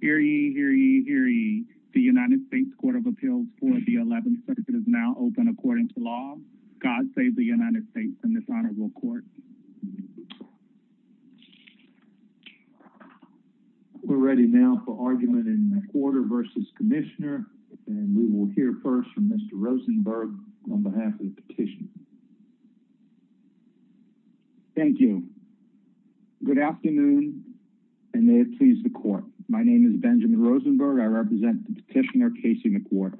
Hear ye, hear ye, hear ye. The United States Court of Appeals for the 11th Circuit is now open according to law. God save the United States and this honorable court. We're ready now for argument in McWhorter v. Commissioner and we will hear first from Mr. Rosenberg on behalf of the petition. Thank you. Good afternoon and may it please the court. My name is Benjamin Rosenberg. I represent the petitioner Casey McWhorter.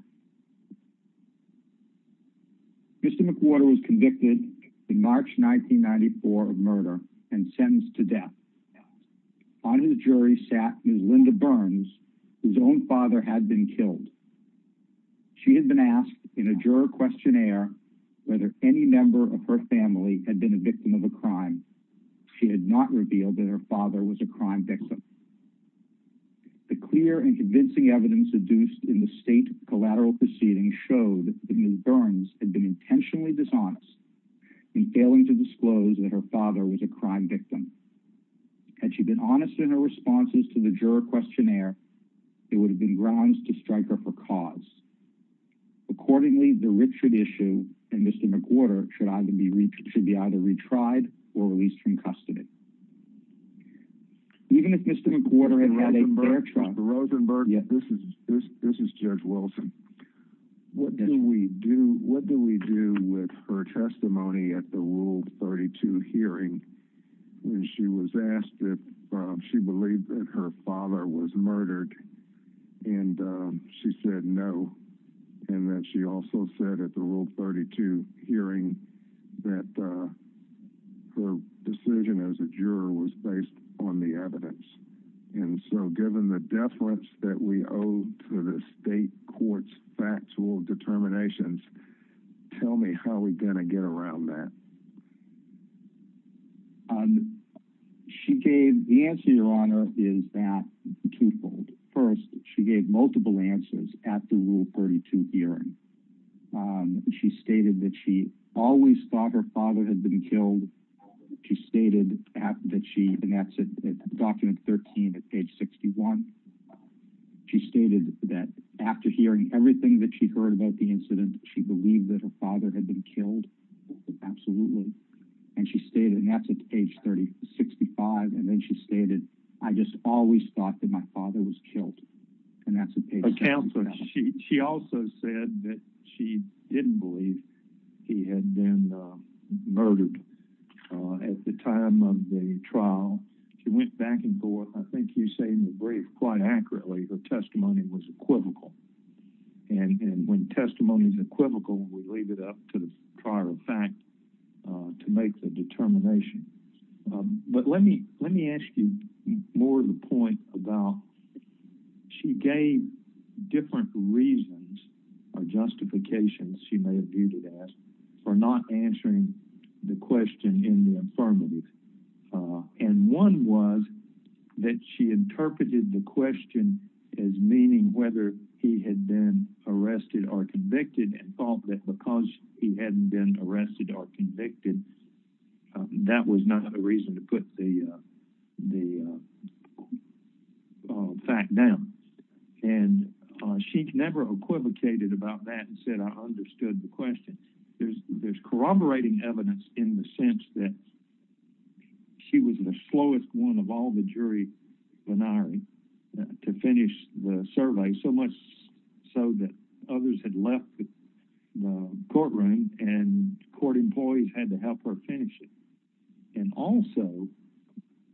Mr. McWhorter was convicted in March 1994 of murder and sentenced to death. On his jury sat Ms. Linda Burns, whose own father had been killed. She had been asked in a juror questionnaire whether any member of her family had been a victim of a crime. She had not revealed that her father was a crime victim. The clear and convincing evidence deduced in the state collateral proceedings showed that Ms. Burns had been intentionally dishonest in failing to disclose that her father was a crime victim. Had she been honest in her responses to the juror questionnaire, it would have been grounds to strike her for cause. Accordingly, the Richard issue and Mr. McWhorter should be either retried or released from custody. Even if Mr. McWhorter had had a fair trial... Mr. Rosenberg, this is Judge Wilson. What do we do with her testimony at the Rule 32 hearing when she was asked if she believed that her father was murdered and she said no, and that she also said at the Rule 32 hearing that her decision as a juror was based on the evidence? And so given the deference that we owe to the state court's factual determinations, tell me how are we going to get around that? The answer, Your Honor, is that twofold. First, she gave multiple answers at the Rule 32 hearing. She stated that she always thought her father had been killed. She stated that she, and that's at document 13 at page 61. She stated that after hearing everything that she heard about the and she stated, and that's at page 65, and then she stated, I just always thought that my father was killed. And that's a page... Counsel, she also said that she didn't believe he had been murdered. At the time of the trial, she went back and forth. I think you say in the brief quite accurately, her testimony was equivocal when we leave it up to the prior fact to make the determination. But let me ask you more of the point about she gave different reasons or justifications she may have viewed it as for not answering the question in the affirmative. And one was that she interpreted the question as meaning whether he had been arrested or convicted and thought that because he hadn't been arrested or convicted, that was not a reason to put the fact down. And she never equivocated about that and said, I understood the question. There's corroborating evidence in the sense that she was the slowest one of all the jury venari to finish the survey, so much so that others had left the courtroom and court employees had to help her finish it. And also,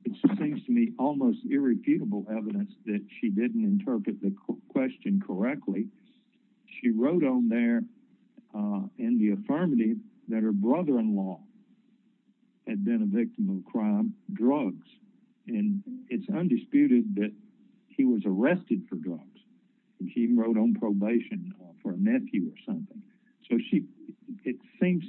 it seems to me almost irrefutable evidence that she didn't interpret the question correctly. She wrote on there in the affirmative that her brother-in-law had been a victim of crime, drugs. And it's undisputed that he was arrested for drugs. He wrote on probation for a nephew or something. So it seems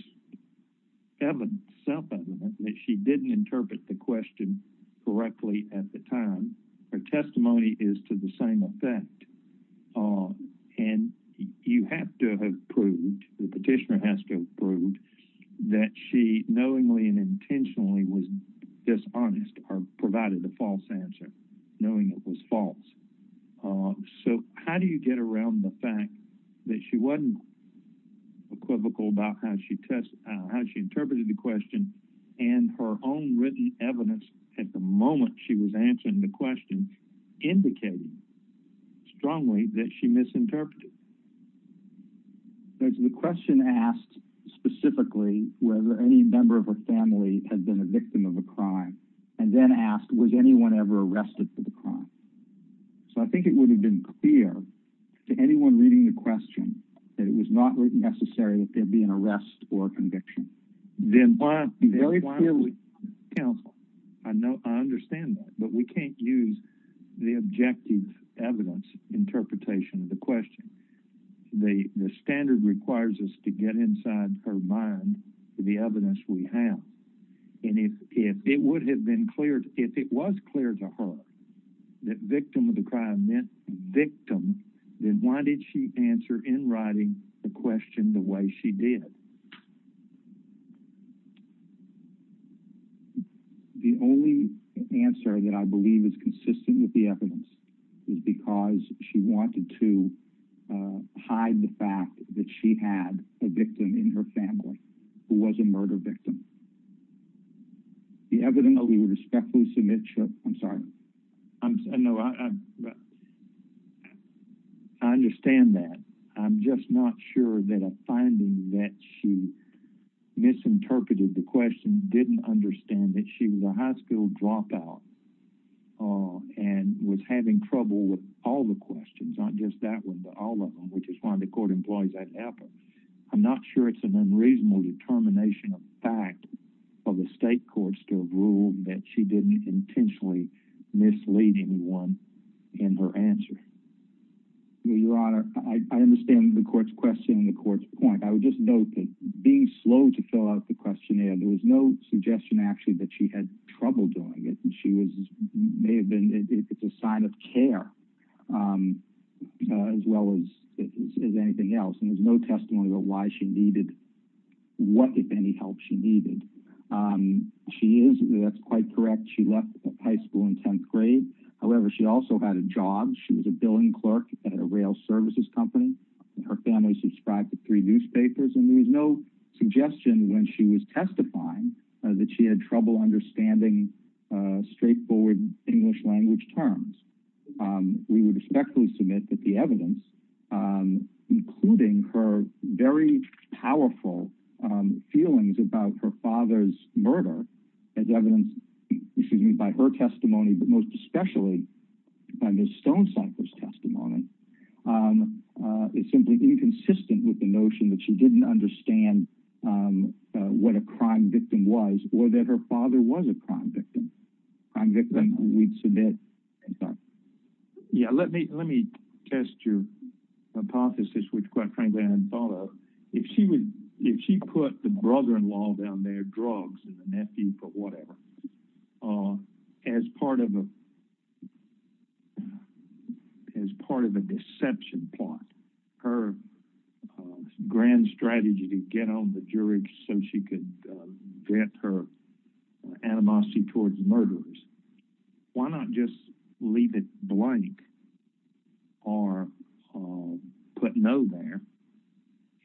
self-evident that she didn't interpret the question correctly at the time. Her testimony is to the same effect. And you have to have that she knowingly and intentionally was dishonest or provided a false answer, knowing it was false. So how do you get around the fact that she wasn't equivocal about how she interpreted the question and her own written evidence at the moment she was answering the whether any member of her family had been a victim of a crime and then asked, was anyone ever arrested for the crime? So I think it would have been clear to anyone reading the question that it was not written necessary that there be an arrest or conviction. I understand that, but we can't use the objective evidence interpretation of the question. The standard requires us to get inside her mind the evidence we have. And if it would have been clear, if it was clear to her that victim of the crime meant victim, then why did she answer in writing the question the way she did? The only answer that I believe is consistent with the hide the fact that she had a victim in her family who was a murder victim. The evidence that we would respectfully submit. I'm sorry. I know. I understand that. I'm just not sure that a finding that she misinterpreted the question didn't understand that she was a high school dropout and was having trouble with all the which is one of the court employees at Apple. I'm not sure it's an unreasonable determination of fact of the state courts to rule that she didn't intentionally mislead anyone in her answer. Your Honor, I understand the court's question and the court's point. I would just note that being slow to fill out the questionnaire, there was no suggestion actually that she had trouble doing it. It's a sign of care as well as anything else. There's no testimony about what, if any, help she needed. That's quite correct. She left high school in 10th grade. However, she also had a job. She was a billing clerk at a rail services company. Her family subscribed to three newspapers. There was no suggestion when she was testifying that she had trouble understanding straightforward English language terms. We would respectfully submit that the evidence, including her very powerful feelings about her father's murder as evidenced by her testimony, but most especially by Ms. Stonecipher's testimony, is simply inconsistent with the notion that she didn't understand what a crime victim was or that her father was a crime victim, a crime victim we'd submit. Let me test your hypothesis, which quite frankly I hadn't thought of. If she put the brother-in-law down there, drugs, and the nephew, but whatever, as part of a deception plot, her grand strategy to get on the jury so she could vet her animosity towards murderers, why not just leave it blank or put no there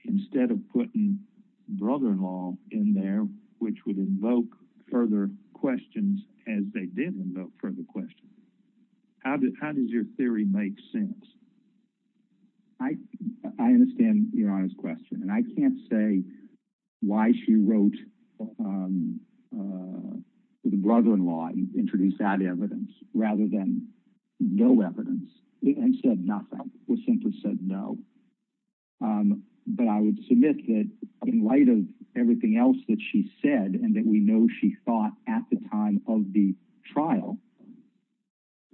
instead of putting brother-in-law in there, which would invoke further questions as they did invoke further questions? How does your theory make sense? I understand your honest question, and I can't say why she wrote the brother-in-law and introduced that evidence rather than no evidence and said nothing, or simply said no, but I would submit that in light of everything else that she said, and that we know she thought at the time of the trial,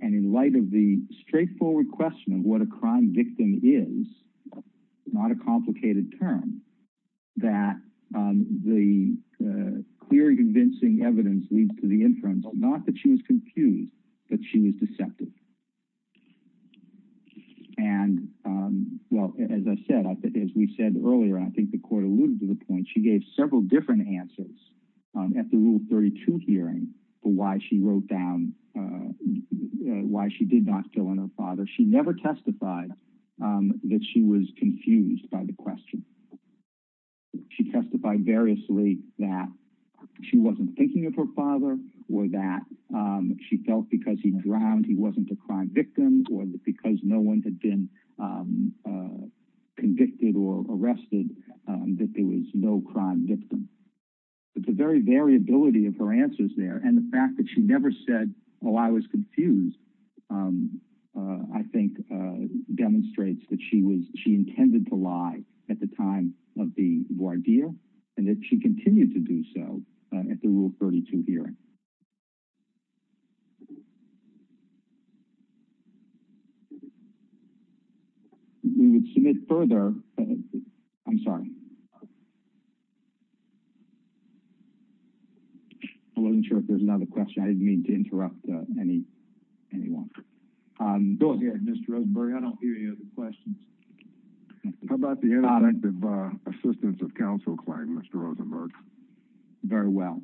and in light of the straightforward question of what a crime victim is, not a complicated term, that the clear and convincing evidence leads to the inference, not that she was confused, but she was deceptive. As I said, as we said earlier, and I think the court alluded to the point, she gave several different answers at the Rule 32 hearing for why she wrote down why she did not kill her father. She never testified that she was confused by the question. She testified variously that she wasn't thinking of her father, or that she felt because he drowned, he wasn't a crime victim, or because no one had been convicted or arrested, that there was no crime victim. The very variability of her answers there, and the fact that she never said, oh, I was confused, I think demonstrates that she intended to lie at the time of the voir dire, and that she continued to do so at the Rule 32 hearing. We would submit further, I'm sorry. I wasn't sure if there was another question. I didn't mean to interrupt anyone. Go ahead, Mr. Rosenberg. I don't hear any other questions. How about the ineffective assistance of counsel claim, Mr. Rosenberg? Very well.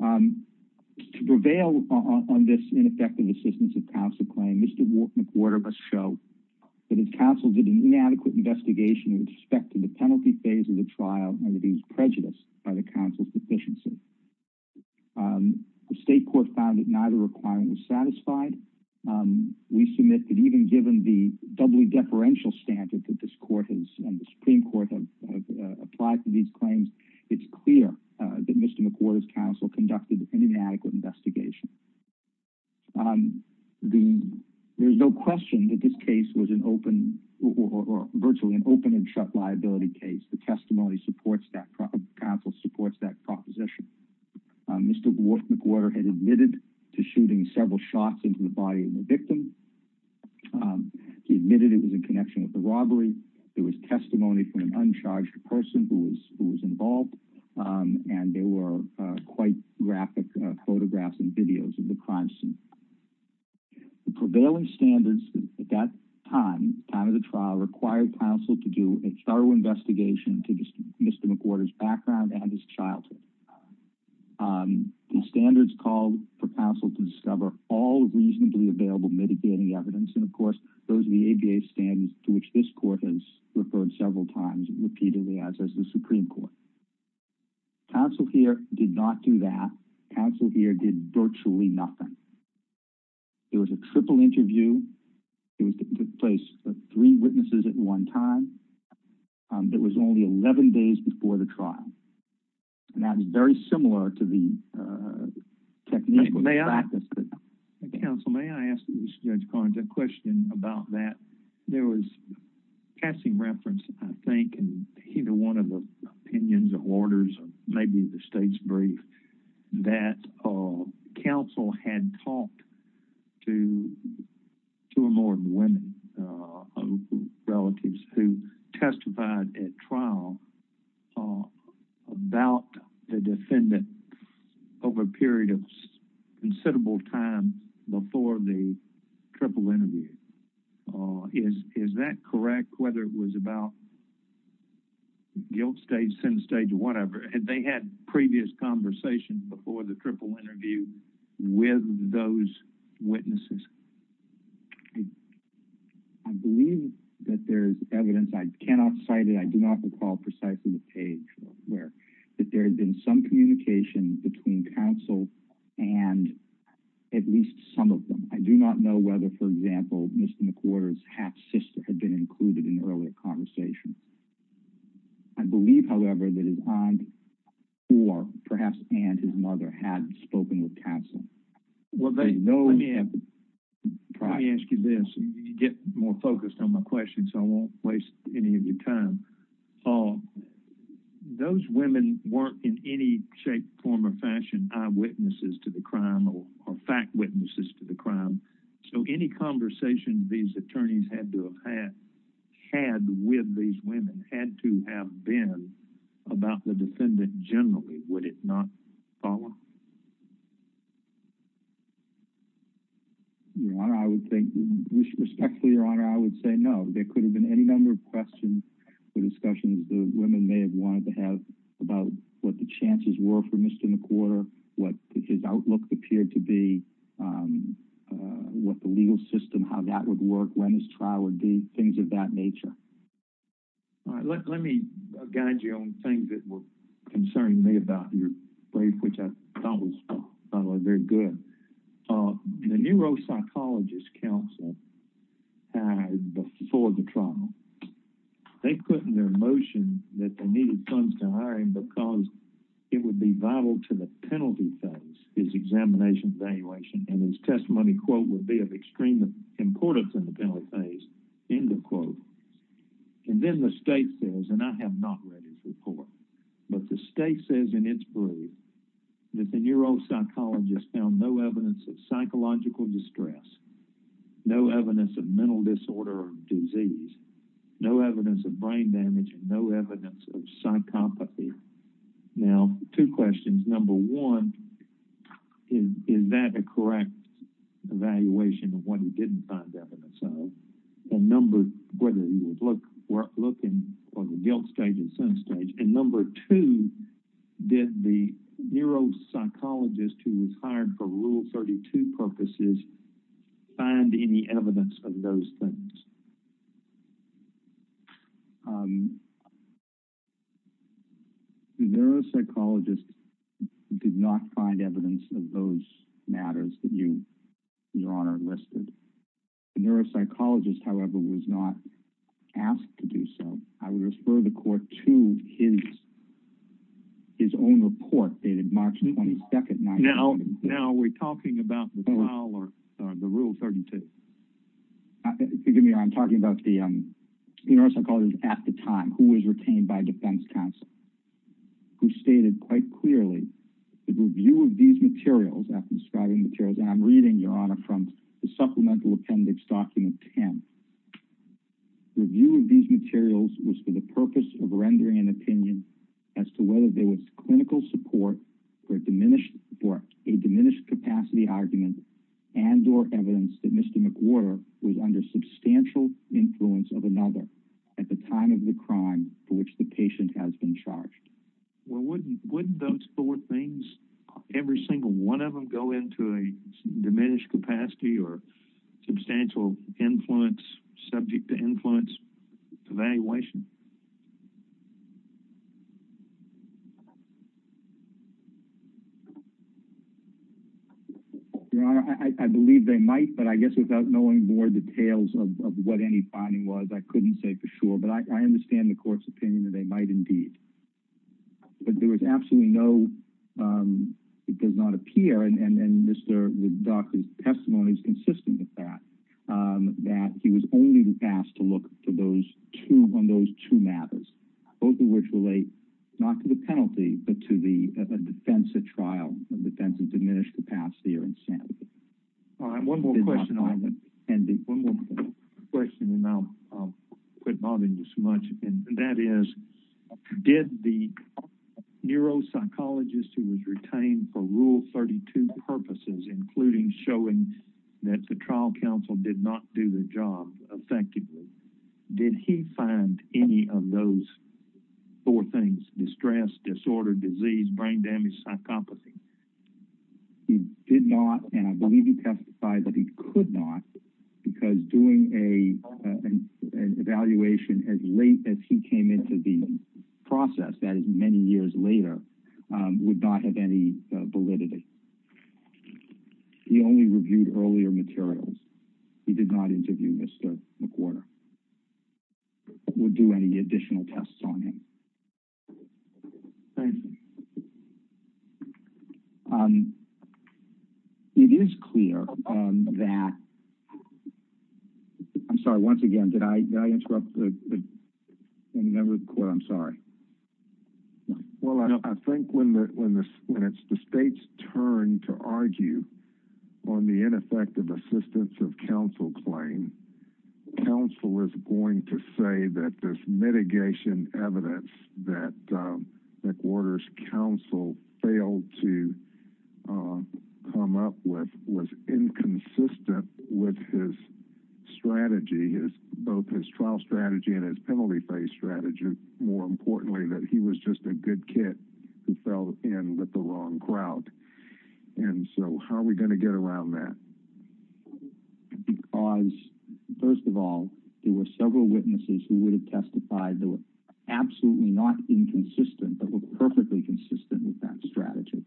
To prevail on this ineffective assistance of counsel claim, Mr. McWhorter showed that his counsel did an inadequate investigation with respect to the penalty phase of the trial, and that he was prejudiced by the counsel's deficiency. The state court found that neither requirement was satisfied. We submit that even given the doubly deferential standard that this court and the Supreme Court have applied to these claims, it's clear that Mr. McWhorter's counsel conducted an inadequate investigation. There's no question that this case was an open, or virtually an open and shut liability case. The testimony supports that, counsel supports that proposition. Mr. McWhorter had admitted to shooting several shots into the body of the victim. He admitted it was in connection with the robbery. There was testimony from an uncharged person who was involved, and there were quite graphic photographs and videos of the crime scene. The prevailing standards at that time, time of the trial, required counsel to do a thorough investigation to Mr. McWhorter's background and his childhood. The standards called for counsel to discover all reasonably available mitigating evidence, and of course, those are the ADA standards to which this court has referred several times, repeatedly as has the Supreme Court. Counsel here did not do that. Counsel here did virtually nothing. There was a triple interview. It took place with three witnesses at one time. It was only 11 days before the trial, and that was very similar to the technique of practice. Counsel, may I ask Judge Collins a question about that? There was passing reference, I think, in either one of the opinions or orders, or maybe the state's brief, that counsel had talked to two or more women, relatives who testified at trial about the defendant over a period of considerable time before the triple interview. Is that correct, whether it was about guilt stage, sin stage, whatever? Had they had previous conversations before the triple interview with those witnesses? I believe that there's evidence. I cannot cite it. I do not recall precisely the page where there had been some communication between counsel and at least some of them. I do not know whether, for example, Mr. McWhorter's half-sister had been included in the earlier conversation. I believe, however, that his aunt or perhaps aunt, his mother, had spoken with counsel. Well, let me ask you this. You get more focused on my question, so I won't waste any of your time. Paul, those women weren't, in any shape, form, or fashion, eyewitnesses to the crime or fact witnesses to the crime, so any conversation these attorneys had to have had with these women had to have been about the defendant generally. Would it not, Paula? Your Honor, I would think, respectfully, Your Honor, I would say no. There could have been any number of questions or discussions the women may have wanted to have about what the chances were for Mr. McWhorter, what his outlook appeared to be, what the legal system, how that would work, when his trial would be, things of that nature. All right. Let me guide you on things that were concerning me about your brief, which I thought were very good. The neuropsychologist counsel hired before the trial, they put in their motion that they needed funds to hire him because it would be vital to the penalty phase, his examination, evaluation, and his testimony, quote, would be of extreme importance in the penalty phase, end of quote. Then the state says, and I have not read his report, but the state says in its brief that the neuropsychologist found no evidence of psychological distress, no evidence of mental disorder or disease, no evidence of brain damage, and no evidence of psychopathy. Now, two questions. Number one, is that a correct evaluation of what he didn't find evidence of, whether he was looking for the guilt stage and sense stage? And number two, did the neuropsychologist who was hired for Rule 32 purposes find any evidence of those things? The neuropsychologist did not find evidence of those matters that you, Your Honor, listed. The neuropsychologist, however, was not asked to do so. I would refer the court to his own report dated March 22, 1932. Now, are we talking about the trial or the Rule 32? Forgive me, Your Honor. I'm talking about the neuropsychologist at the time who was retained by defense counsel, who stated quite clearly the review of these materials, after describing materials, and I'm reading, Your Honor, from the supplemental appendix document 10, the review of these materials was for the purpose of rendering an opinion as to whether there was clinical support for a diminished capacity argument and or evidence that Mr. McWhorter was under substantial influence of another at the time of the crime for which the patient has been charged. Well, wouldn't those four things, every single one of them, go into a diminished capacity or substantial influence, subject to influence evaluation? Your Honor, I believe they might, but I guess without knowing more details of what any finding was, I couldn't say for sure, but I understand the court's opinion that they might indeed. But there was absolutely no, it does not appear, and Mr. Woodcock's testimony is consistent with that, that he was only asked to look to those two, on those two matters, both of which relate not to the penalty, but to the defense at trial, the defense of diminished capacity or insanity. All right, one more question, and I'll quit bothering you so much, and that is, did the neuropsychologist who was retained for Rule 32 purposes, including showing that the trial counsel did not do the job effectively, did he find any of those four things, distress, disorder, disease, brain damage, psychopathy? He did not, and I believe he testified that he could not, because doing an evaluation as late as he came into the process, that is many years later, would not have any validity. He only reviewed earlier materials. He did not interview Mr. McWhorter, would do any additional tests on him. Thank you. It is clear that, I'm sorry, once again, did I interrupt the member of the court? I'm sorry. Well, I think when it's the state's turn to argue on the ineffective assistance of counsel claim, counsel is going to say that this mitigation evidence that McWhorter's counsel failed to come up with was inconsistent with his strategy, both his trial strategy and his penalty-based strategy. More importantly, that he was just a good kid who fell in with the wrong crowd, and so how are we going to get around that? Because, first of all, there were several witnesses who would have testified that were absolutely not inconsistent, but were perfectly consistent with that strategy.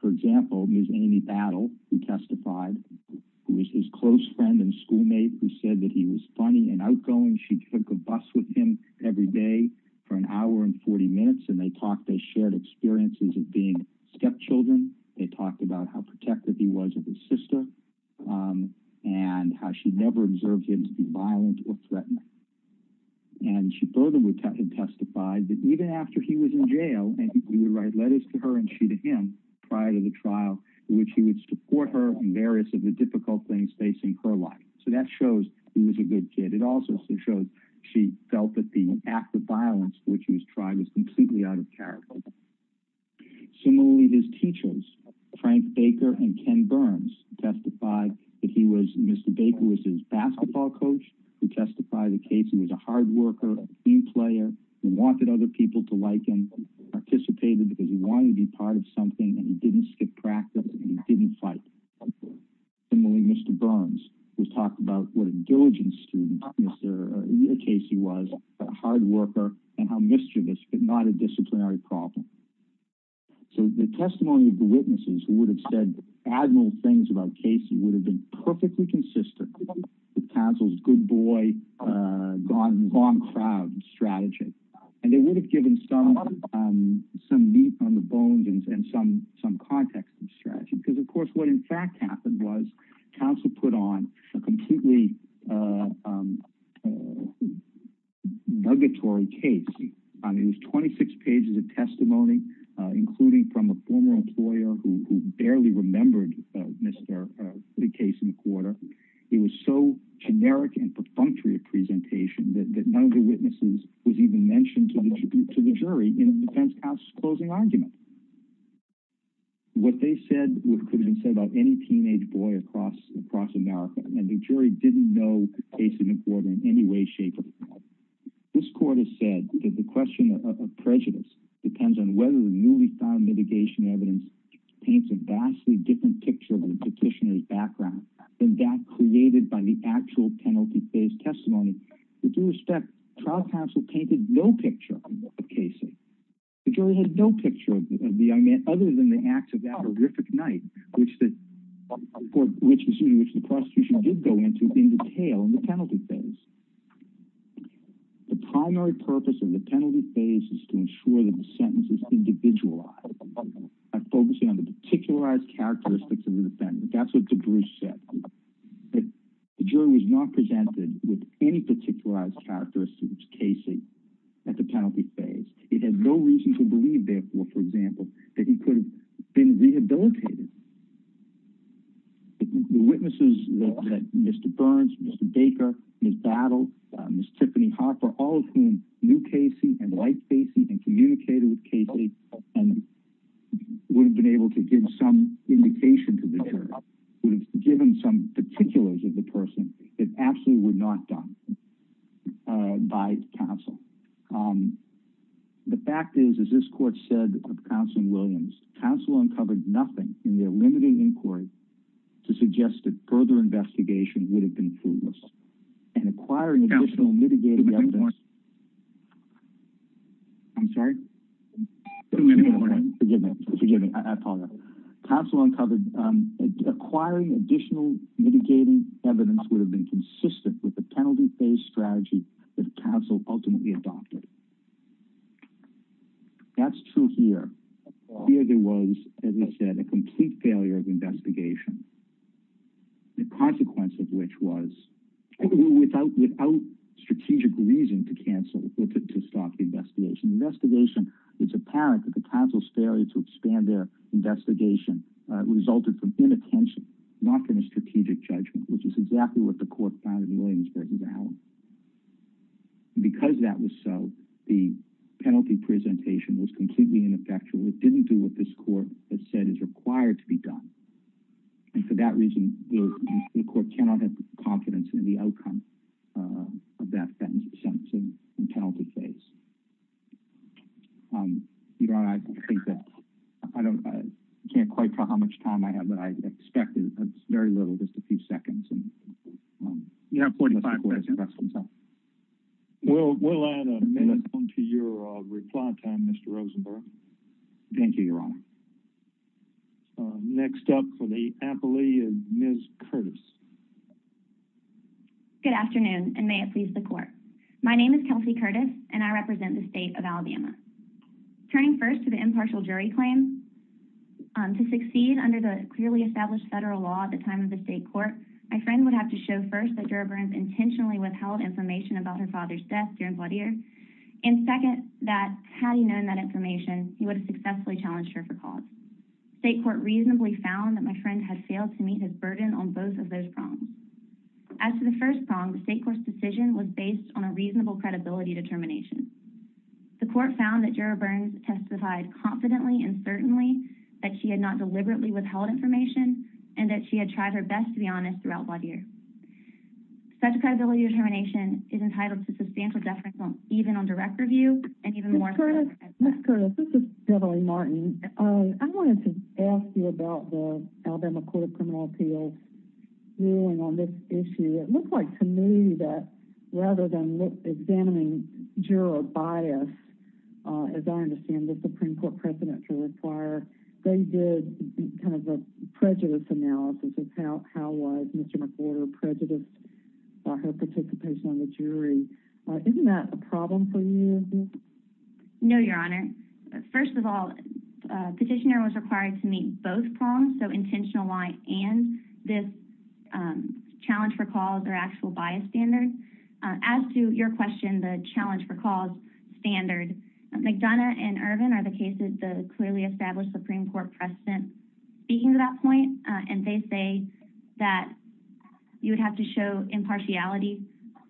For example, Ms. Amy Battle, who testified, who was his close friend and schoolmate, who said that he was funny and outgoing. She took a bus with him every day for an hour and stepchildren. They talked about how protective he was of his sister and how she never observed him to be violent or threatening. She further would have testified that even after he was in jail, and he would write letters to her and she to him prior to the trial, in which he would support her in various of the difficult things facing her life. That shows he was a good kid. It also shows she felt that the act of violence which he was trying was completely out of character. Similarly, his teachers, Frank Baker and Ken Burns, testified that Mr. Baker was his basketball coach. He testified that Casey was a hard worker, a team player. He wanted other people to like him. He participated because he wanted to be part of something, and he didn't skip practice, and he didn't fight. Similarly, Mr. Burns would talk about what a diligent student Casey was, a hard worker, and how mischievous, but not a disciplinary problem. The testimony of the witnesses who would have said admirable things about Casey would have been perfectly consistent with counsel's good boy, gone-crowd strategy. They would have given some meat on the bones and some context to the strategy. Of course, what in fact happened was counsel put on a completely nuggatory case. It was 26 pages of testimony, including from a former employer who barely remembered the case in the court. It was so generic and perfunctory a presentation that none of the witnesses was even mentioned to the jury in the defense counsel's closing argument. What they said could have been said about any teenage boy across America, and the jury didn't know Casey McWhorter in any way, shape, or form. This court has said that the question of prejudice depends on whether the newly found mitigation evidence paints a vastly different picture of the petitioner's background than that created by the actual penalty phase testimony. With due other than the act of that horrific night, which the prosecution did go into in detail in the penalty phase. The primary purpose of the penalty phase is to ensure that the sentence is individualized by focusing on the particularized characteristics of the defendant. That's what DeBruce said. The jury was not presented with any particularized characteristics of Casey at the penalty phase. It had no reason to believe, therefore, for example, that he could have been rehabilitated. The witnesses that Mr. Burns, Mr. Baker, Ms. Battle, Ms. Tiffany Hopper, all of whom knew Casey and liked Casey and communicated with Casey would have been able to give some indication to the jury, would have given some particulars of the person that actually were not done by counsel. The fact is, as this court said of counsel Williams, counsel uncovered nothing in their limited inquiry to suggest that further investigation would have been fruitless. And acquiring additional mitigating evidence. I'm sorry? Forgive me. I apologize. Counsel uncovered acquiring additional mitigating evidence would have been consistent with the penalty phase strategy that counsel ultimately adopted. That's true here. Here there was, as I said, a complete failure of investigation. The consequence of which was without strategic reason to cancel, to stop the investigation. Investigation, it's apparent that the counsel's failure to expand their investigation resulted from inattention, not from a strategic judgment, which is exactly what the court found in Williams v. Allen. Because that was so, the penalty presentation was completely ineffectual. It didn't do what this court had said is required to be done. And for that reason, the court cannot have confidence in the outcome of that sentence in penalty phase. Um, you know, I think that I don't, I can't quite tell how much time I have, but I expect it's very little, just a few seconds. And, um, yeah. Well, we'll add a minute to your reply time, Mr. Rosenberg. Thank you, Your Honor. Next up for the appellee is Ms. Curtis. Good afternoon, and may it please the court. My name is Kelsey Curtis, and I represent the state of Alabama. Turning first to the impartial jury claim, to succeed under the clearly established federal law at the time of the state court, my friend would have to show first that Gerber intentionally withheld information about her father's death during blood years. And second, that had he known that information, he would have successfully challenged her for cause. State court reasonably found that my friend had failed to meet his burden on both of those prongs. As to the first prong, the state court's determination. The court found that Gerber testified confidently and certainly that she had not deliberately withheld information and that she had tried her best to be honest throughout blood years. Such a credibility determination is entitled to substantial deference, even on direct review and even more. Ms. Curtis, this is Debra Martin. I wanted to ask you about the Alabama Court of Criminal Appeals ruling on this issue. It looks like to me that rather than examining juror bias, as I understand the Supreme Court precedent to require, they did kind of a prejudice analysis of how was Mr. McWhorter prejudiced by her participation on the jury. Isn't that a problem for you? No, Your Honor. First of all, petitioner was required to meet both prongs, so intentional and this challenge for cause or actual bias standard. As to your question, the challenge for cause standard, McDonough and Ervin are the cases that clearly established Supreme Court precedent speaking to that point. They say that you would have to show impartiality,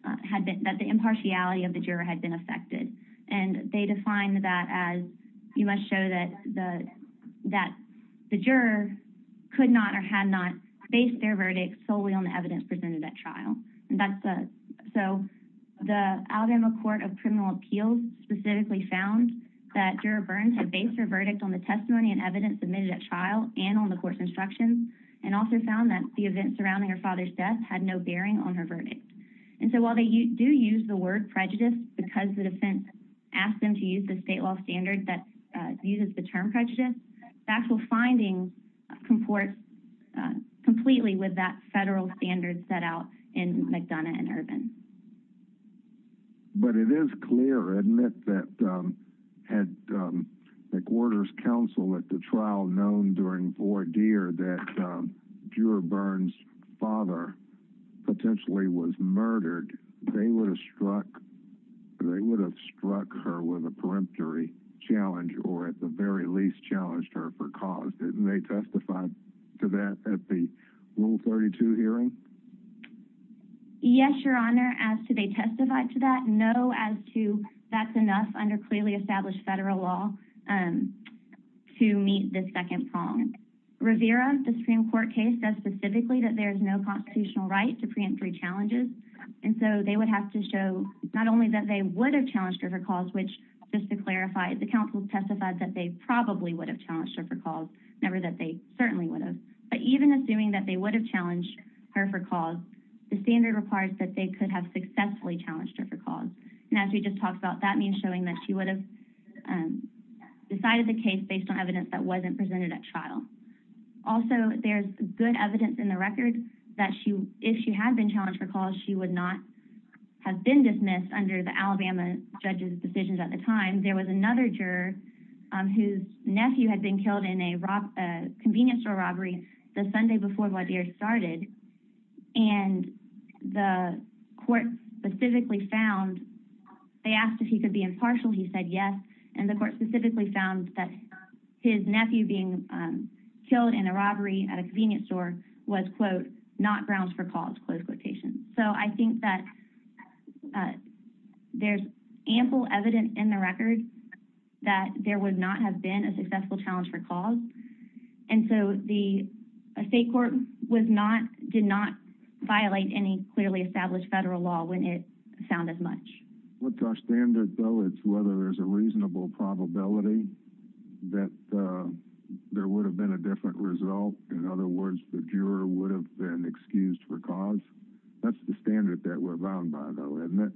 that the impartiality of the juror had been affected. They defined that as you must show that that the juror could not or had not based their verdict solely on the evidence presented at trial. The Alabama Court of Criminal Appeals specifically found that Juror Burns had based her verdict on the testimony and evidence submitted at trial and on the court's instructions and also found that the event surrounding her father's death had no bearing on her verdict. While they do use the word prejudice because the defense asked them to use the state law standard that uses the term prejudice, the actual finding comports completely with that federal standard set out in McDonough and Ervin. But it is clear, isn't it, that had McWhorter's counsel at the trial known during voir dire that Juror Burns' father potentially was murdered, they would have struck her with a peremptory challenge or at the very least challenged her for cause. Didn't they testify to that at the Rule 32 hearing? Yes, Your Honor, as to they testified to that. No, as to that's enough under clearly established federal law to meet the second prong. Rivera, the Supreme Court case, says specifically that there's no constitutional right to preempt three challenges. They would have to show not only that they would have challenged her for cause, which just to clarify, the counsel testified that they probably would have challenged her for cause, never that they certainly would have. But even assuming that they would have challenged her for cause, the standard requires that they could have successfully challenged her for cause. And as we just talked about, that means showing that she would have decided the case based on evidence that wasn't presented at trial. Also, there's good evidence in the record that if she had been challenged for cause, she would not have been dismissed under the Alabama judge's decisions at the time. There was another juror whose nephew had been killed in a convenience store robbery the Sunday before Wadeer started. And the court specifically found, they asked if he could be impartial. He said yes. And the court specifically found that his nephew being killed in a robbery at a convenience store was, quote, not grounds for cause, close quotation. So I think that there's ample evidence in the record that there would not have been a successful challenge for cause. And so the state court did not violate any clearly established federal law when it found as much. What's our standard, though? It's whether there's a reasonable probability that there would have been a different result. In other words, the juror would have been excused for cause. That's the standard that we're bound by, though, isn't it?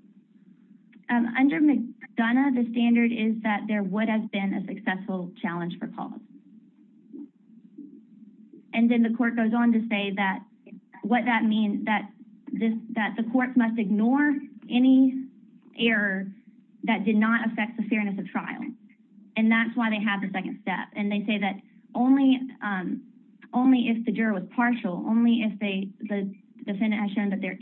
Under McDonough, the standard is that there would have been a successful challenge for cause. And then the court goes on to say that what that means, that the court must ignore any error that did not affect the fairness of trial. And that's why they have the second step. And they say that only if the juror was partial, only if the defendant has shown that their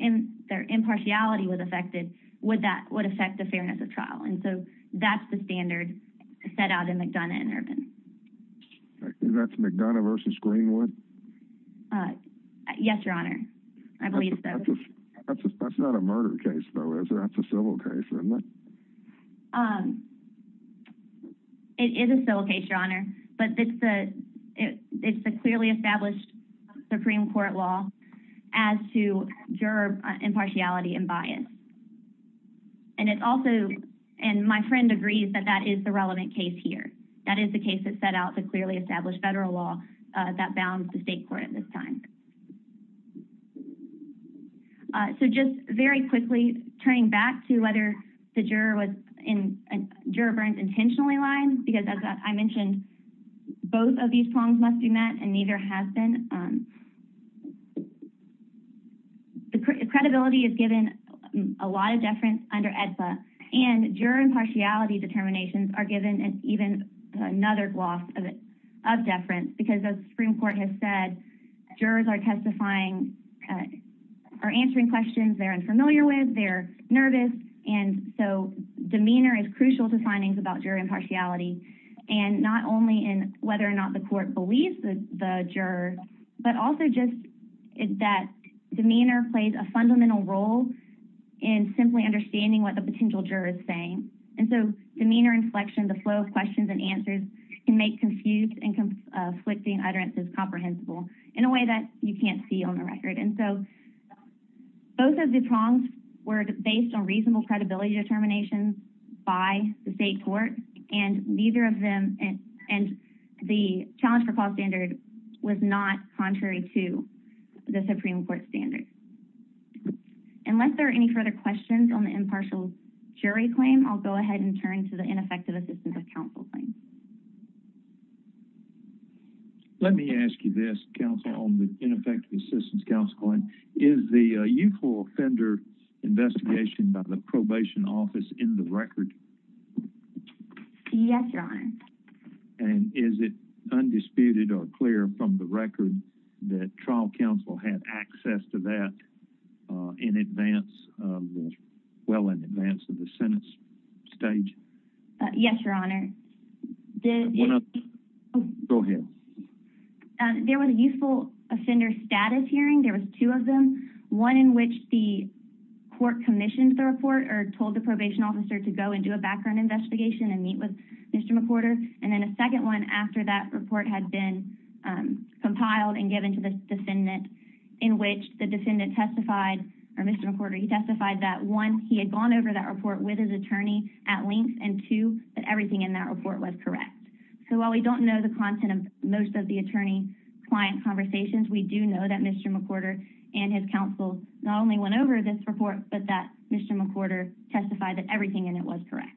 impartiality was affected, would that affect the fairness of trial. And so that's the standard set out in McDonough and Irvin. Is that McDonough versus Greenwood? Yes, Your Honor. I believe so. That's not a murder case, though, is it? That's a civil case, isn't it? It is a civil case, Your Honor. But it's the clearly established Supreme Court law as to juror impartiality and bias. And my friend agrees that that is the relevant case here. That is the case that set out the clearly established federal law that bounds the state court at this time. So just very quickly, turning back to whether the juror was in Juror Burns intentionally lying, because as I mentioned, both of these prongs must be met and neither has been. The credibility is given a lot of deference under AEDSA. And juror impartiality determinations are given an even another gloss of deference because the Supreme Court has said jurors are testifying or answering questions they're unfamiliar with, they're nervous. And so demeanor is crucial to findings about juror impartiality. And not only in whether or not the court believes the juror, but also just that demeanor plays a fundamental role in simply understanding what the potential juror is saying. And so demeanor inflection, the flow of questions and answers can make confused and conflicting utterances comprehensible in a way that you can't see on the record. And so both of the prongs were based on reasonable credibility determinations by the state court, and neither of them, and the challenge for cause standard was not contrary to the Supreme Court standard. Unless there are any further questions on the impartial jury claim, I'll go ahead and turn to the ineffective assistance of counsel claim. Let me ask you this counsel on the ineffective assistance counsel claim, is the youthful offender investigation by the probation office in the record? Yes, your honor. And is it undisputed or clear from the record that trial counsel had access to that in advance of well in advance of the sentence stage? Yes, your honor. Go ahead. There was a youthful offender status hearing. There was two of them, one in which the court commissioned the report or told the probation officer to go and do a background investigation and meet with Mr. McWhorter. And then a second one after that report had been compiled and given to the defendant in which the defendant testified or Mr. McWhorter, he testified that one, he had gone over that report with his attorney at length and two, that everything in that report was correct. So while we don't know the content of most of the attorney client conversations, we do know that Mr. McWhorter and his counsel not only went over this report, but that Mr. McWhorter testified that everything in it was correct.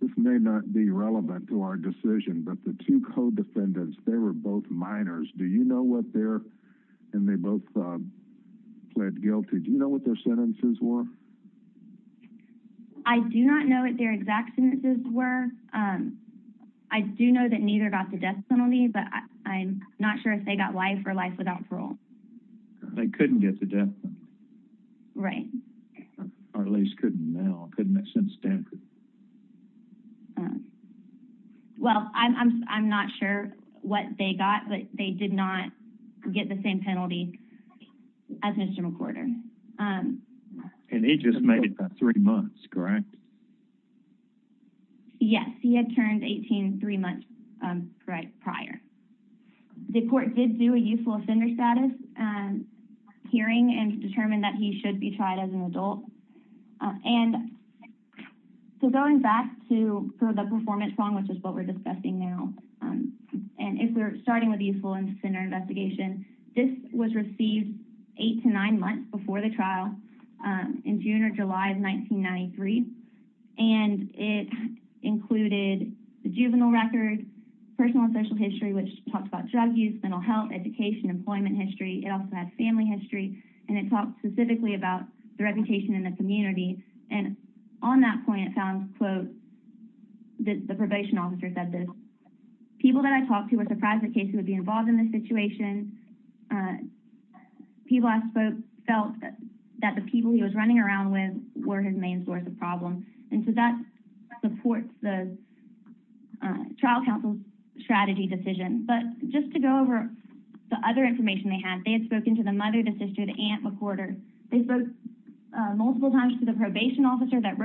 This may not be relevant to our decision, but the two co-defendants, they were both minors. Do you know what their, and they both pled guilty. Do you know what their sentences were? I do not know what their exact sentences were. I do know that neither got the death penalty, but I'm not sure if they got life or life without parole. They couldn't get the death penalty. Right. Or at least couldn't now, couldn't have since Stanford. Well, I'm not sure what they got, but they did not get the same penalty as Mr. McWhorter. And he just made it by three months, correct? Yes, he had turned 18 three months prior. The court did do a youthful offender status hearing and determined that he should be tried as an adult. And so going back to the performance song, which is what we're discussing now, and if we're starting with youthful offender investigation, this was received eight to nine months before the trial in June or July of 1993. And it included the juvenile record, personal and social history, which talks about drug use, mental health, education, employment history. It also has family history, and it talks specifically about the reputation in the community. And on that point, it found, quote, the probation officer said this, people that I talked to were surprised the case would be involved in this situation. People I spoke felt that the people he was running around with were his main source of problem. And so that supports the trial counsel's strategy decision. But just to go over the other information they had, they had spoken to the mother, the sister, the aunt McWhorter. They spoke multiple times to the probation officer that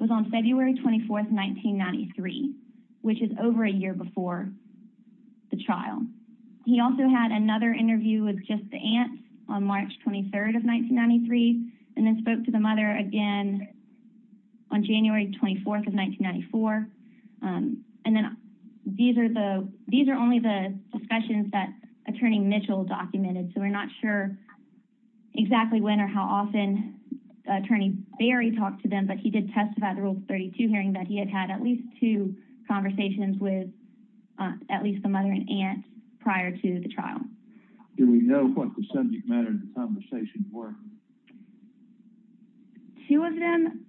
was on February 24th, 1993, which is over a year before the trial. He also had another interview with just the aunt on March 23rd of 1993, and then spoke to the mother again on January 24th of 1994. And then these are only the discussions that attorney Mitchell documented. So we're not sure exactly when or how often attorney Berry talked to them, but he did testify at the Rule 32 hearing that he had had at least two conversations with at least the mother and aunt prior to the trial. Do we know what the subject matter of the conversation were? Two of them,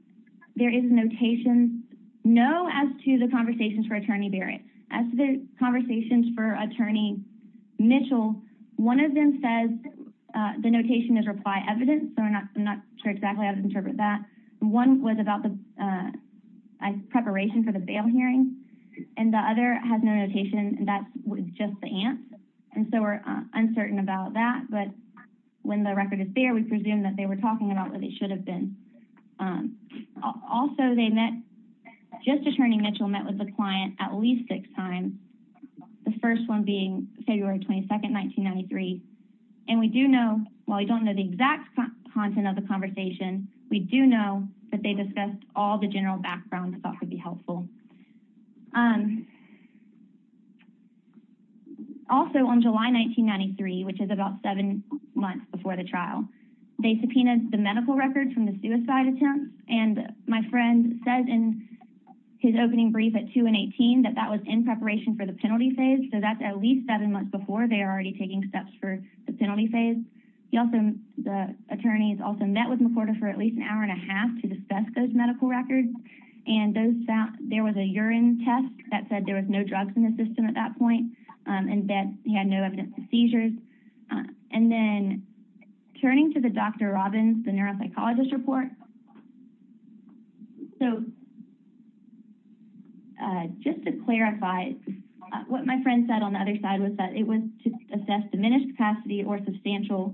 there is a notation. No, as to the conversations for attorney Berry. As to the conversations for attorney Mitchell, one of them says the notation is reply evidence, I'm not sure exactly how to interpret that. One was about the preparation for the bail hearing, and the other has no notation, that's just the aunt. And so we're uncertain about that, but when the record is there, we presume that they were talking about where they should have been. Also, they met, just attorney Mitchell met with the client at least six times, the first one being February 22nd, 1993. And we do know, while we don't know the exact content of the conversation, we do know that they discussed all the general backgrounds that could be helpful. Also on July 1993, which is about seven months before the trial, they subpoenaed the medical records from the suicide attempt. And my friend says in his opening brief at 2 and 18, that that was in preparation for the penalty phase. So that's at least seven months before they are already taking steps for the penalty phase. He also, the attorneys also met with McWhorter for at least an hour and a half to discuss those medical records. And there was a urine test that said there was no drugs in the system at that point, and that he had no evidence of seizures. And then turning to the Dr. Robbins, the neuropsychologist report. So just to clarify, what my friend said on the other side was that it was to assess diminished capacity or substantial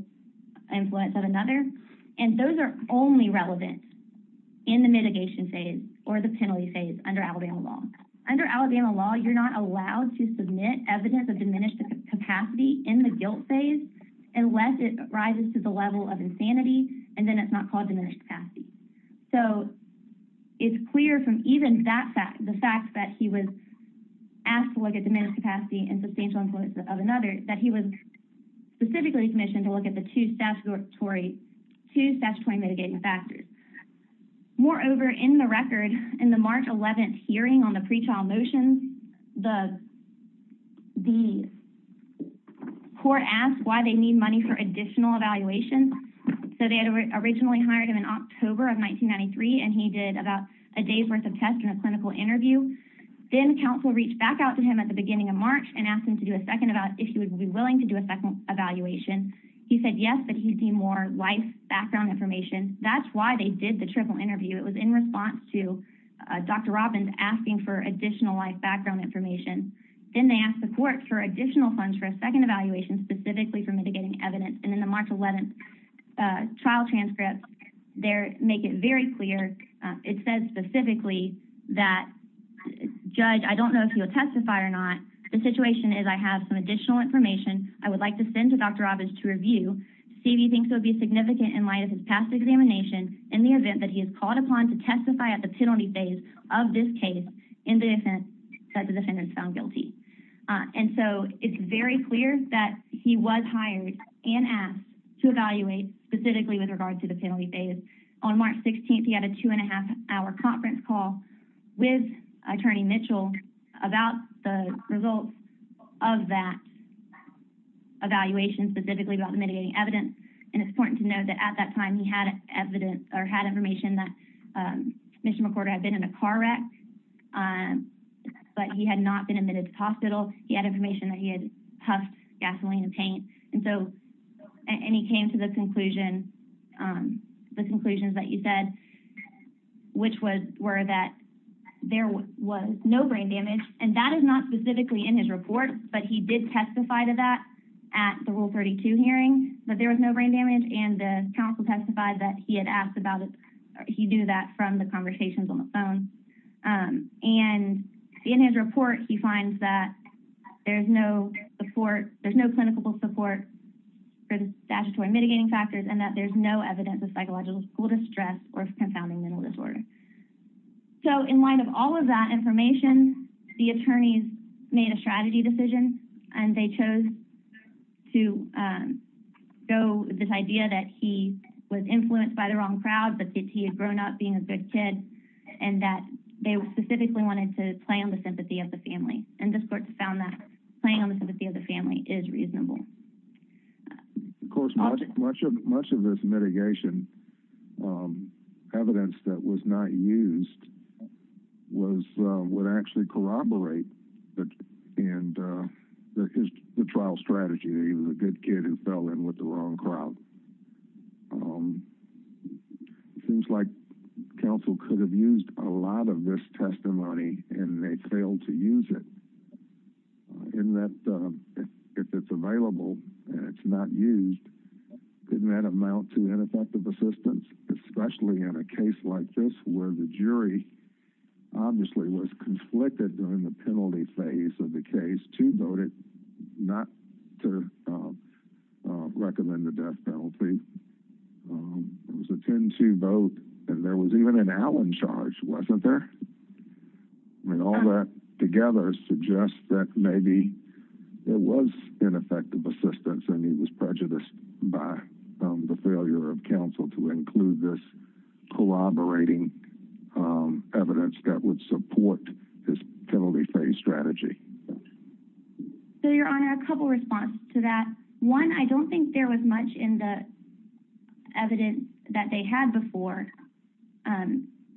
influence of another. And those are only relevant in the mitigation phase or the penalty phase under Alabama law. Under Alabama law, you're not allowed to submit evidence of diminished capacity in the guilt phase unless it rises to the level of insanity. And then it's not called diminished capacity. So it's clear from even the fact that he was asked to look at diminished capacity and substantial influence of another, that he was specifically commissioned to look at the two statutory mitigating factors. Moreover, in the record, in the March 11th hearing on the pretrial motions, the court asked why they need money for additional evaluation. So they had originally hired him in October of 1993, and he did about a day's worth of tests and a clinical interview. Then counsel reached back out to him at the beginning of March and asked him to do a second evaluation, if he would be willing to do a second evaluation. He said yes, but he'd need more life background information. That's why they did the triple interview. It was in response to Dr. Robbins asking for additional life background information. Then they asked the court for additional funds for a second evaluation, specifically for mitigating evidence. In the March 11th trial transcript, they make it very clear. It says specifically that, judge, I don't know if you'll testify or not. The situation is I have some additional information I would like to send to Dr. Robbins to review. See if he thinks it would be significant in light of his past examination in the event that he is called upon to testify at the penalty phase of this case in the event that the defendant is found guilty. And so it's very clear that he was hired and asked to evaluate specifically with regard to the penalty phase. On March 16th, he had a two and a half hour conference call with attorney Mitchell about the results of that evaluation, specifically about the mitigating evidence. And it's important to know that at that time he had evidence or had information that Mr. McWhorter had been in a car wreck, but he had not been admitted to the hospital. He had information that he had puffed gasoline and paint. And so, and he came to the conclusion, the conclusions that you said, which were that there was no brain damage. And that is not specifically in his report, but he did testify to that at the Rule 32 hearing, that there was no brain damage. And the counsel testified that he had asked about it. He knew that from the conversations on the phone. And in his report, he finds that there's no support. There's no clinical support for the statutory mitigating factors and that there's no evidence of psychological school distress or confounding mental disorder. So in light of all of that information, the attorneys made a strategy decision and they chose to go with this idea that he was influenced by the wrong crowd, that he had grown up being a good kid and that they specifically wanted to play on the sympathy of the family. And this court found that playing on the sympathy of the family is reasonable. Of course, much of this mitigation, evidence that was not used, would actually corroborate the trial strategy. He was a good kid who fell in with the wrong crowd. It seems like counsel could have used a lot of this testimony and they failed to use it. And that if it's available and it's not used, didn't that amount to ineffective assistance, especially in a case like this, where the jury obviously was conflicted during the penalty phase of the case to vote it, not to recommend the death penalty. It was a 10-2 vote and there was even an Allen charge, wasn't there? And all that together suggests that maybe there was ineffective assistance and he was prejudiced by the failure of counsel to include this collaborating evidence that would support his penalty phase strategy. So, Your Honor, a couple of responses to that. One, I don't think there was much in the evidence that they had before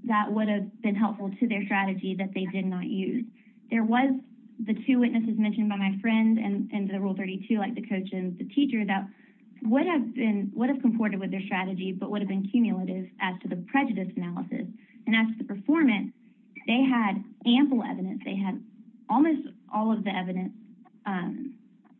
that would have been helpful to their strategy that they did not use. There was the two witnesses mentioned by my friend and the Rule 32, like the coach and the teacher, that would have been, would have comported with their strategy, but would have been cumulative as to the prejudice analysis. And as to the performance, they had ample evidence. They had almost all of the evidence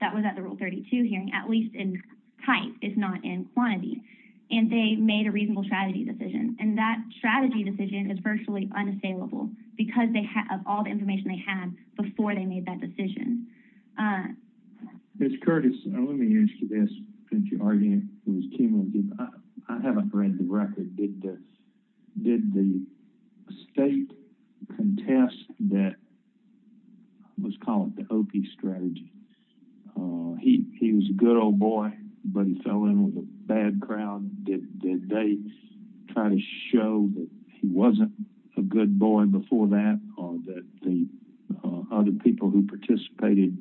that was at the Rule 32 hearing, at least in type, if not in quantity. And they made a reasonable strategy decision. And that strategy decision is virtually unassailable because of all the information they had before they made that decision. Mr. Curtis, let me ask you this, since you're arguing it was cumulative. I haven't read the record. Did the state contest that, let's call it the Okie strategy? He was a good old boy, but he fell in with a bad crowd. Did they try to show that he wasn't a good boy before that or that the other people who participated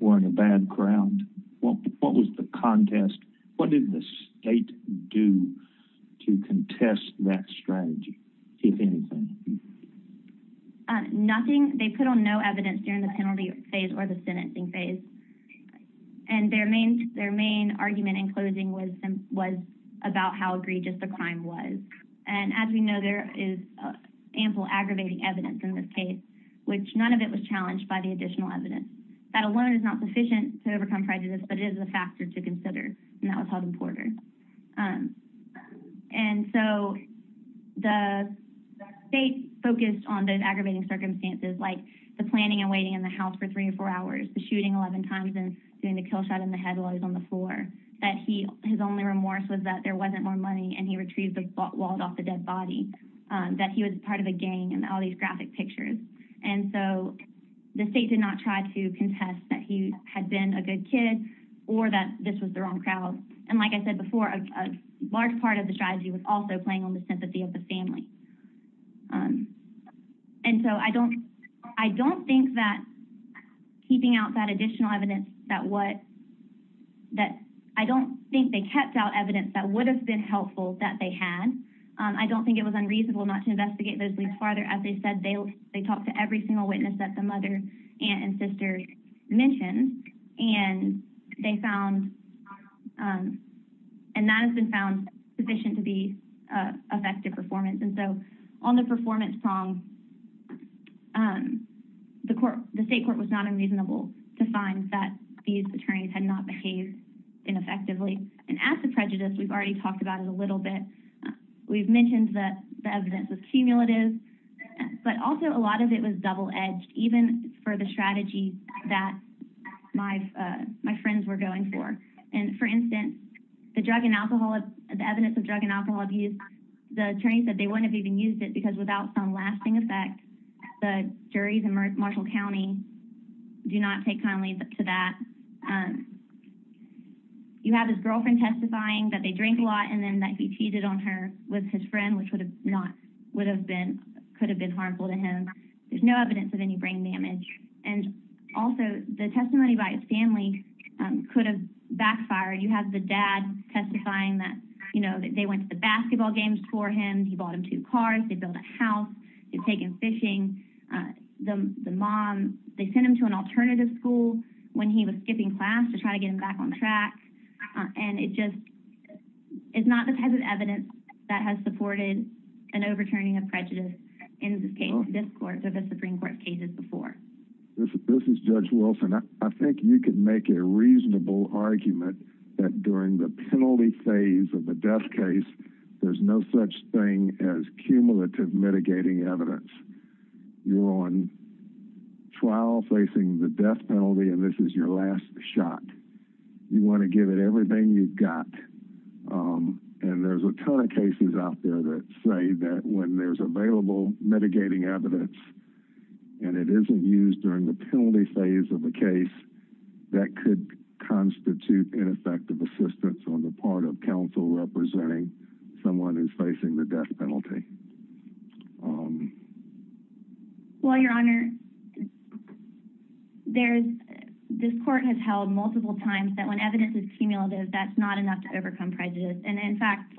were in a bad crowd? What was the contest? What did the state do to contest that strategy, if anything? Nothing. They put on no evidence during the penalty phase or the sentencing phase. And their main argument in closing was about how egregious the crime was. And as we know, there is ample aggravating evidence in this case, which none of it was challenged by the additional evidence. That alone is not sufficient to overcome prejudice, but it is a factor to consider. And that was held in Porter. And so the state focused on those aggravating circumstances, like the planning and waiting in the house for three or four hours, the shooting 11 times and doing the kill shot in the head while he was on the floor, that his only remorse was that there wasn't more money and he retrieved the wallet off the dead body, that he was part of a gang and all these graphic pictures. And so the state did not try to contest that he had been a good kid. Or that this was the wrong crowd. And like I said before, a large part of the strategy was also playing on the sympathy of the family. And so I don't think that keeping out that additional evidence, that I don't think they kept out evidence that would have been helpful that they had. I don't think it was unreasonable not to investigate those leads farther. As they said, they talked to every single witness that the mother, aunt and sister mentioned. And they found, and that has been found sufficient to be effective performance. And so on the performance song, the state court was not unreasonable to find that these attorneys had not behaved ineffectively. And as the prejudice, we've already talked about it a little bit. We've mentioned that the evidence was cumulative, but also a lot of it was double edged, even for the strategy that my friends were going for. And for instance, the evidence of drug and alcohol abuse, the attorney said they wouldn't have even used it because without some lasting effect, the juries in Marshall County do not take kindly to that. You have his girlfriend testifying that they drink a lot and then that he cheated on her with his friend, which could have been harmful to him. There's no evidence of any brain damage. And also the testimony by his family could have backfired. You have the dad testifying that they went to the basketball games for him. He bought him two cars. They built a house. They've taken fishing. The mom, they sent him to an alternative school when he was skipping class to try to get him back on track. And it just is not the type of evidence that has supported an overturning of prejudice in the Supreme Court cases before. This is Judge Wilson. I think you could make a reasonable argument that during the penalty phase of a death case, there's no such thing as cumulative mitigating evidence. You're on trial facing the death penalty, and this is your last shot. You want to give it everything you've got. And there's a ton of cases out there that say that when there's available mitigating evidence and it isn't used during the penalty phase of a case, that could constitute ineffective assistance on the part of counsel representing someone who's facing the death penalty. Well, Your Honor, this court has held multiple times that when evidence is cumulative, that's not enough to overcome prejudice. And in fact,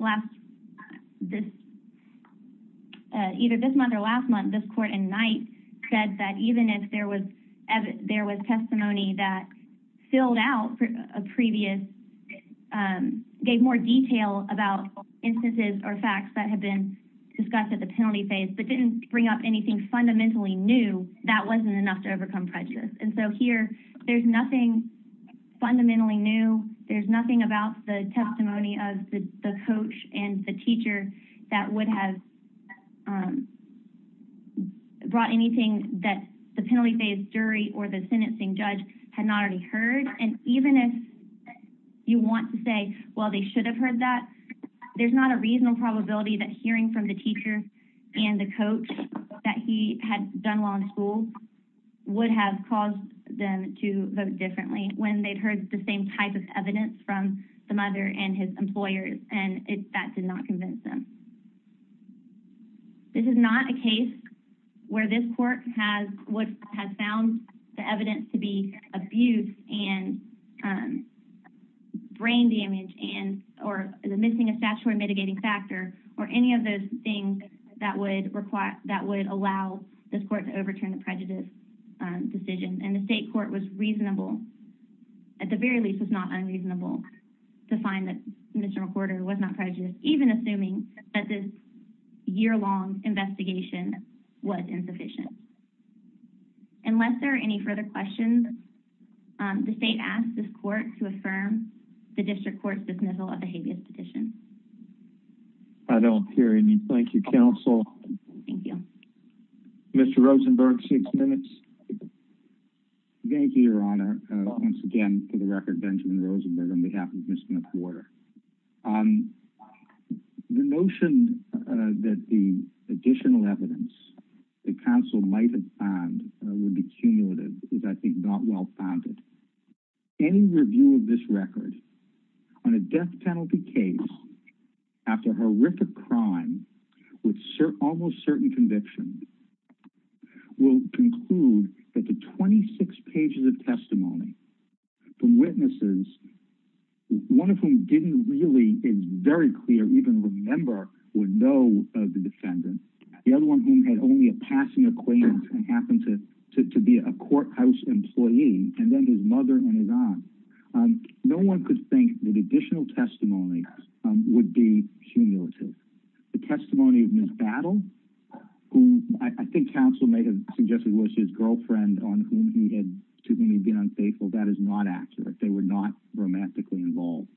either this month or last month, this court in Knight said that even if there was testimony that filled out a previous, gave more detail about instances or facts that had been discussed at the penalty phase but didn't bring up anything fundamentally new, that wasn't enough to overcome prejudice. And so here, there's nothing fundamentally new. There's nothing about the testimony of the coach and the teacher that would have brought anything that the penalty phase jury or the sentencing judge had not already heard. And even if you want to say, well, they should have heard that, there's not a reasonable probability that hearing from the teacher and the coach that he had done well in school would have caused them to vote differently when they'd heard the same type of evidence from the mother and his employers, and that did not convince them. This is not a case where this court has what has found the evidence to be abuse and brain damage and or the missing a statutory mitigating factor or any of those things that would allow this court to overturn the prejudice decision. And the state court was reasonable, at the very least, was not unreasonable to find that Mr. McCorder was not prejudiced, even assuming that this year-long investigation was insufficient. Unless there are any further questions, the state asked this court to affirm the district court's dismissal of the habeas petition. I don't hear any. Thank you, counsel. Thank you. Mr. Rosenberg, six minutes. Thank you, Your Honor. Once again, for the record, Benjamin Rosenberg on behalf of Mr. McCorder. The notion that the additional evidence the counsel might have found would be cumulative is, I think, not well-founded. Any review of this record on a death penalty case after horrific crime with almost certain convictions will conclude that the 26 pages of testimony from witnesses, one of whom didn't really, it's very clear, even remember or know of the defendant, the other one whom had only a passing acquaintance and happened to be a courthouse employee, and then his mother and his aunt, no one could think that additional testimony would be cumulative. The testimony of Ms. Battle, whom I think counsel may have suggested was his girlfriend to whom he'd been unfaithful, that is not accurate. They were not romantically involved.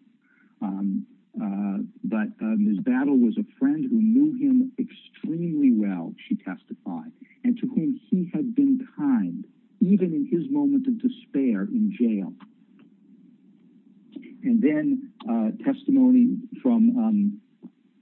But Ms. Battle was a friend who knew him extremely well, she testified, and to whom he had been kind, even in his moment of despair in jail. And then testimony from,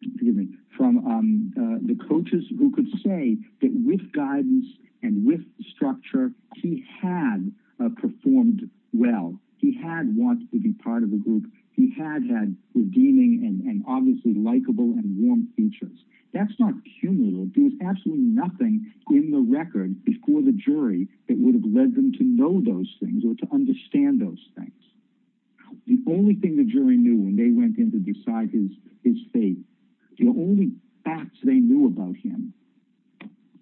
excuse me, from the coaches who could say that with guidance and with structure, he had performed well. He had wanted to be part of the group. He had had redeeming and obviously likable and warm features. That's not cumulative. There's absolutely nothing in the record before the jury that would have led them to know those things or to understand those things. The only thing the jury knew when they went in to decide his fate, the only facts they knew about him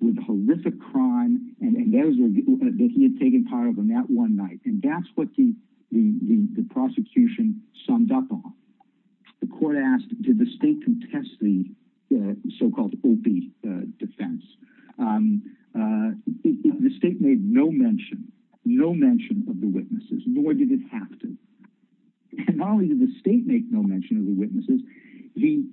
were the horrific crime and that he had taken part of on that one night. And that's what the prosecution summed up on. The court asked, did the state contest the so-called OPI defense? The state made no mention, no mention of the witnesses, nor did it have to. Not only did the state make no mention of the witnesses, the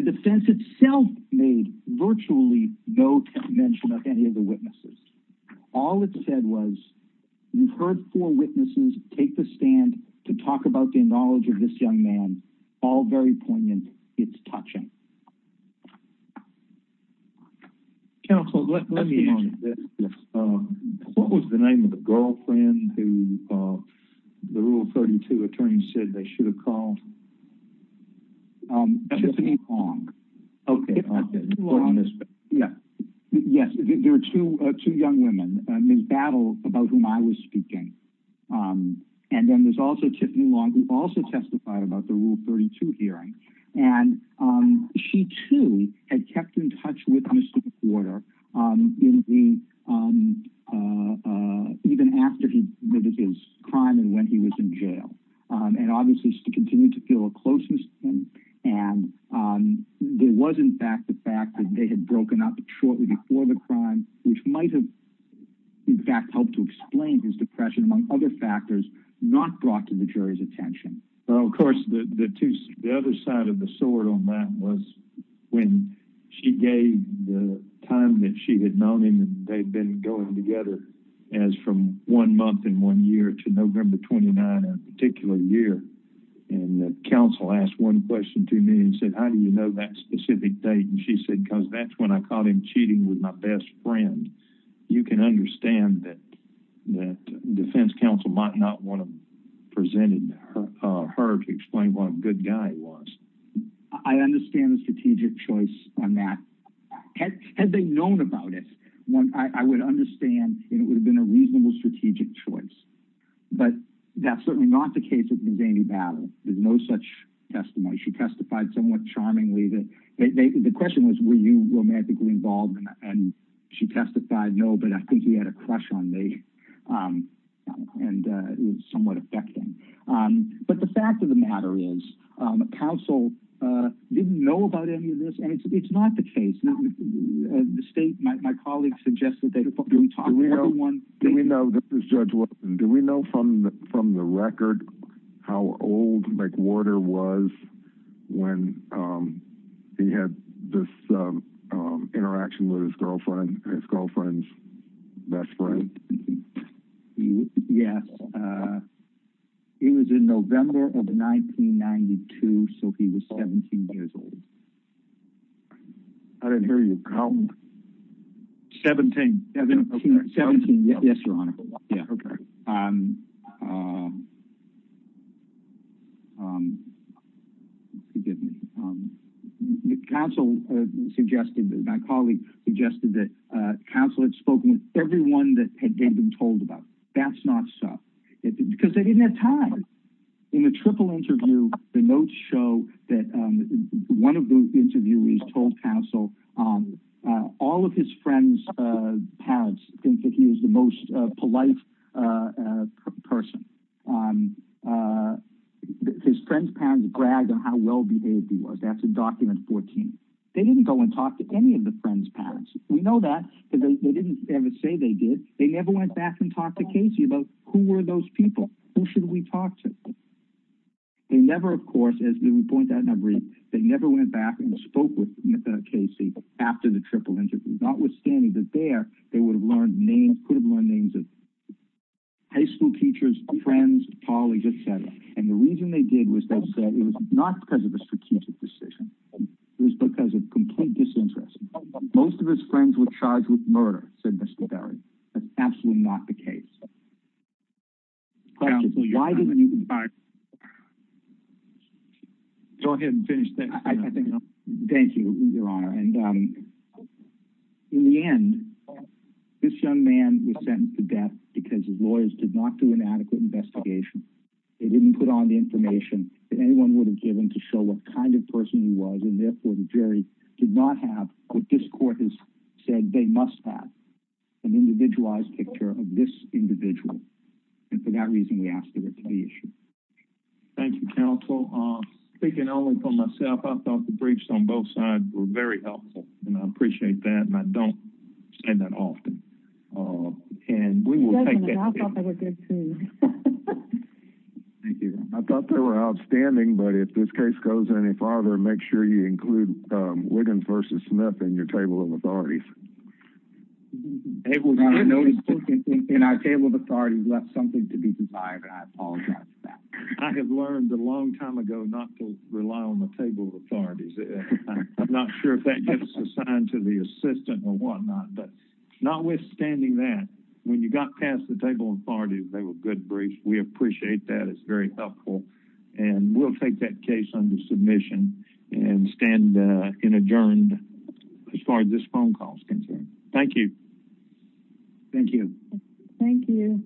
defense itself made virtually no mention of any of the witnesses. All it said was, you've heard four witnesses take the stand to talk about the knowledge of this young man, all very poignant. It's touching. Counsel, let me ask you this. What was the name of the girlfriend who the Rule 32 attorney said they should have called? Tiffany Long. Yes, there were two young women, Ms. Battle, about whom I was speaking. And then there's also Tiffany Long, who also testified about the Rule 32 hearing. And she too had kept in touch with Mr. Porter in the, even after he committed his crime and when he was in jail. And obviously she continued to feel a closeness to him. And there was, in fact, the fact that they had broken up shortly before the crime, which might have, in fact, helped to explain his depression, among other factors not brought to the jury's attention. Well, of course, the other side of the sword on that was when she gave the time that she had known him and they'd been going together as from one month and one year to November 29, a particular year. And the counsel asked one question to me and said, how do you know that specific date? And she said, because that's when I caught him cheating with my best friend. You can understand that defense counsel might not want to present it to her to explain what a good guy he was. I understand the strategic choice on that. Had they known about it, I would understand and it would have been a reasonable strategic choice. But that's certainly not the case of the zany battle. There's no such testimony. She testified somewhat charmingly that, the question was, were you romantically involved? And she testified, no, but I think he had a crush on me and it was somewhat affecting. But the fact of the matter is, counsel didn't know about any of this and it's not the case. The state, my colleagues suggested that we talk. Do we know, this is Judge Wilson, do we know from the record how old McWhorter was when he had this interaction with his girlfriend, his girlfriend's best friend? Yes, it was in November of 1992. So he was 17 years old. I didn't hear you. 17. Yes, Your Honor. Forgive me. Counsel suggested that my colleague suggested that counsel had spoken with everyone that they'd been told about. That's not so. Because they didn't have time. In the triple interview, the notes show that one of the interviewees told counsel all of his friend's parents think that he was the most polite person. His friend's parents bragged on how well-behaved he was. That's in document 14. They didn't go and talk to any of the friend's parents. We know that because they didn't ever say they did. They never went back and talked to Casey about who were those people? Who should we talk to? They never, of course, as we point out in our brief, they never went back and spoke with Casey after the triple interview. Notwithstanding that there, they could have learned names of high school teachers, friends, colleagues, et cetera. And the reason they did was they said it was not because of a strategic decision. It was because of complete disinterest. Most of his friends were charged with murder, said Mr. Berry. That's absolutely not the case. So questions, why didn't you- Go ahead and finish that. Thank you, your honor. And in the end, this young man was sentenced to death because his lawyers did not do an adequate investigation. They didn't put on the information that anyone would have given to show what kind of person he was. And therefore the jury did not have what this court has said they must have, an individualized picture of this individual. And for that reason, we asked for it to be issued. Thank you, counsel. Speaking only for myself, I thought the briefs on both sides were very helpful and I appreciate that. And I don't say that often. And we will take that. I thought they were good too. Thank you. I thought they were outstanding, but if this case goes any farther, make sure you include Wiggins versus Smith in your table of authorities. It was on a notice book and our table of authorities left something to be desired. And I apologize for that. I have learned a long time ago not to rely on the table of authorities. I'm not sure if that gets assigned to the assistant or whatnot, but notwithstanding that, when you got past the table of authorities, they were good briefs. We appreciate that. It's very helpful. And we'll take that case under submission and stand in adjourned as far as this phone call is concerned. Thank you. Thank you. Thank you.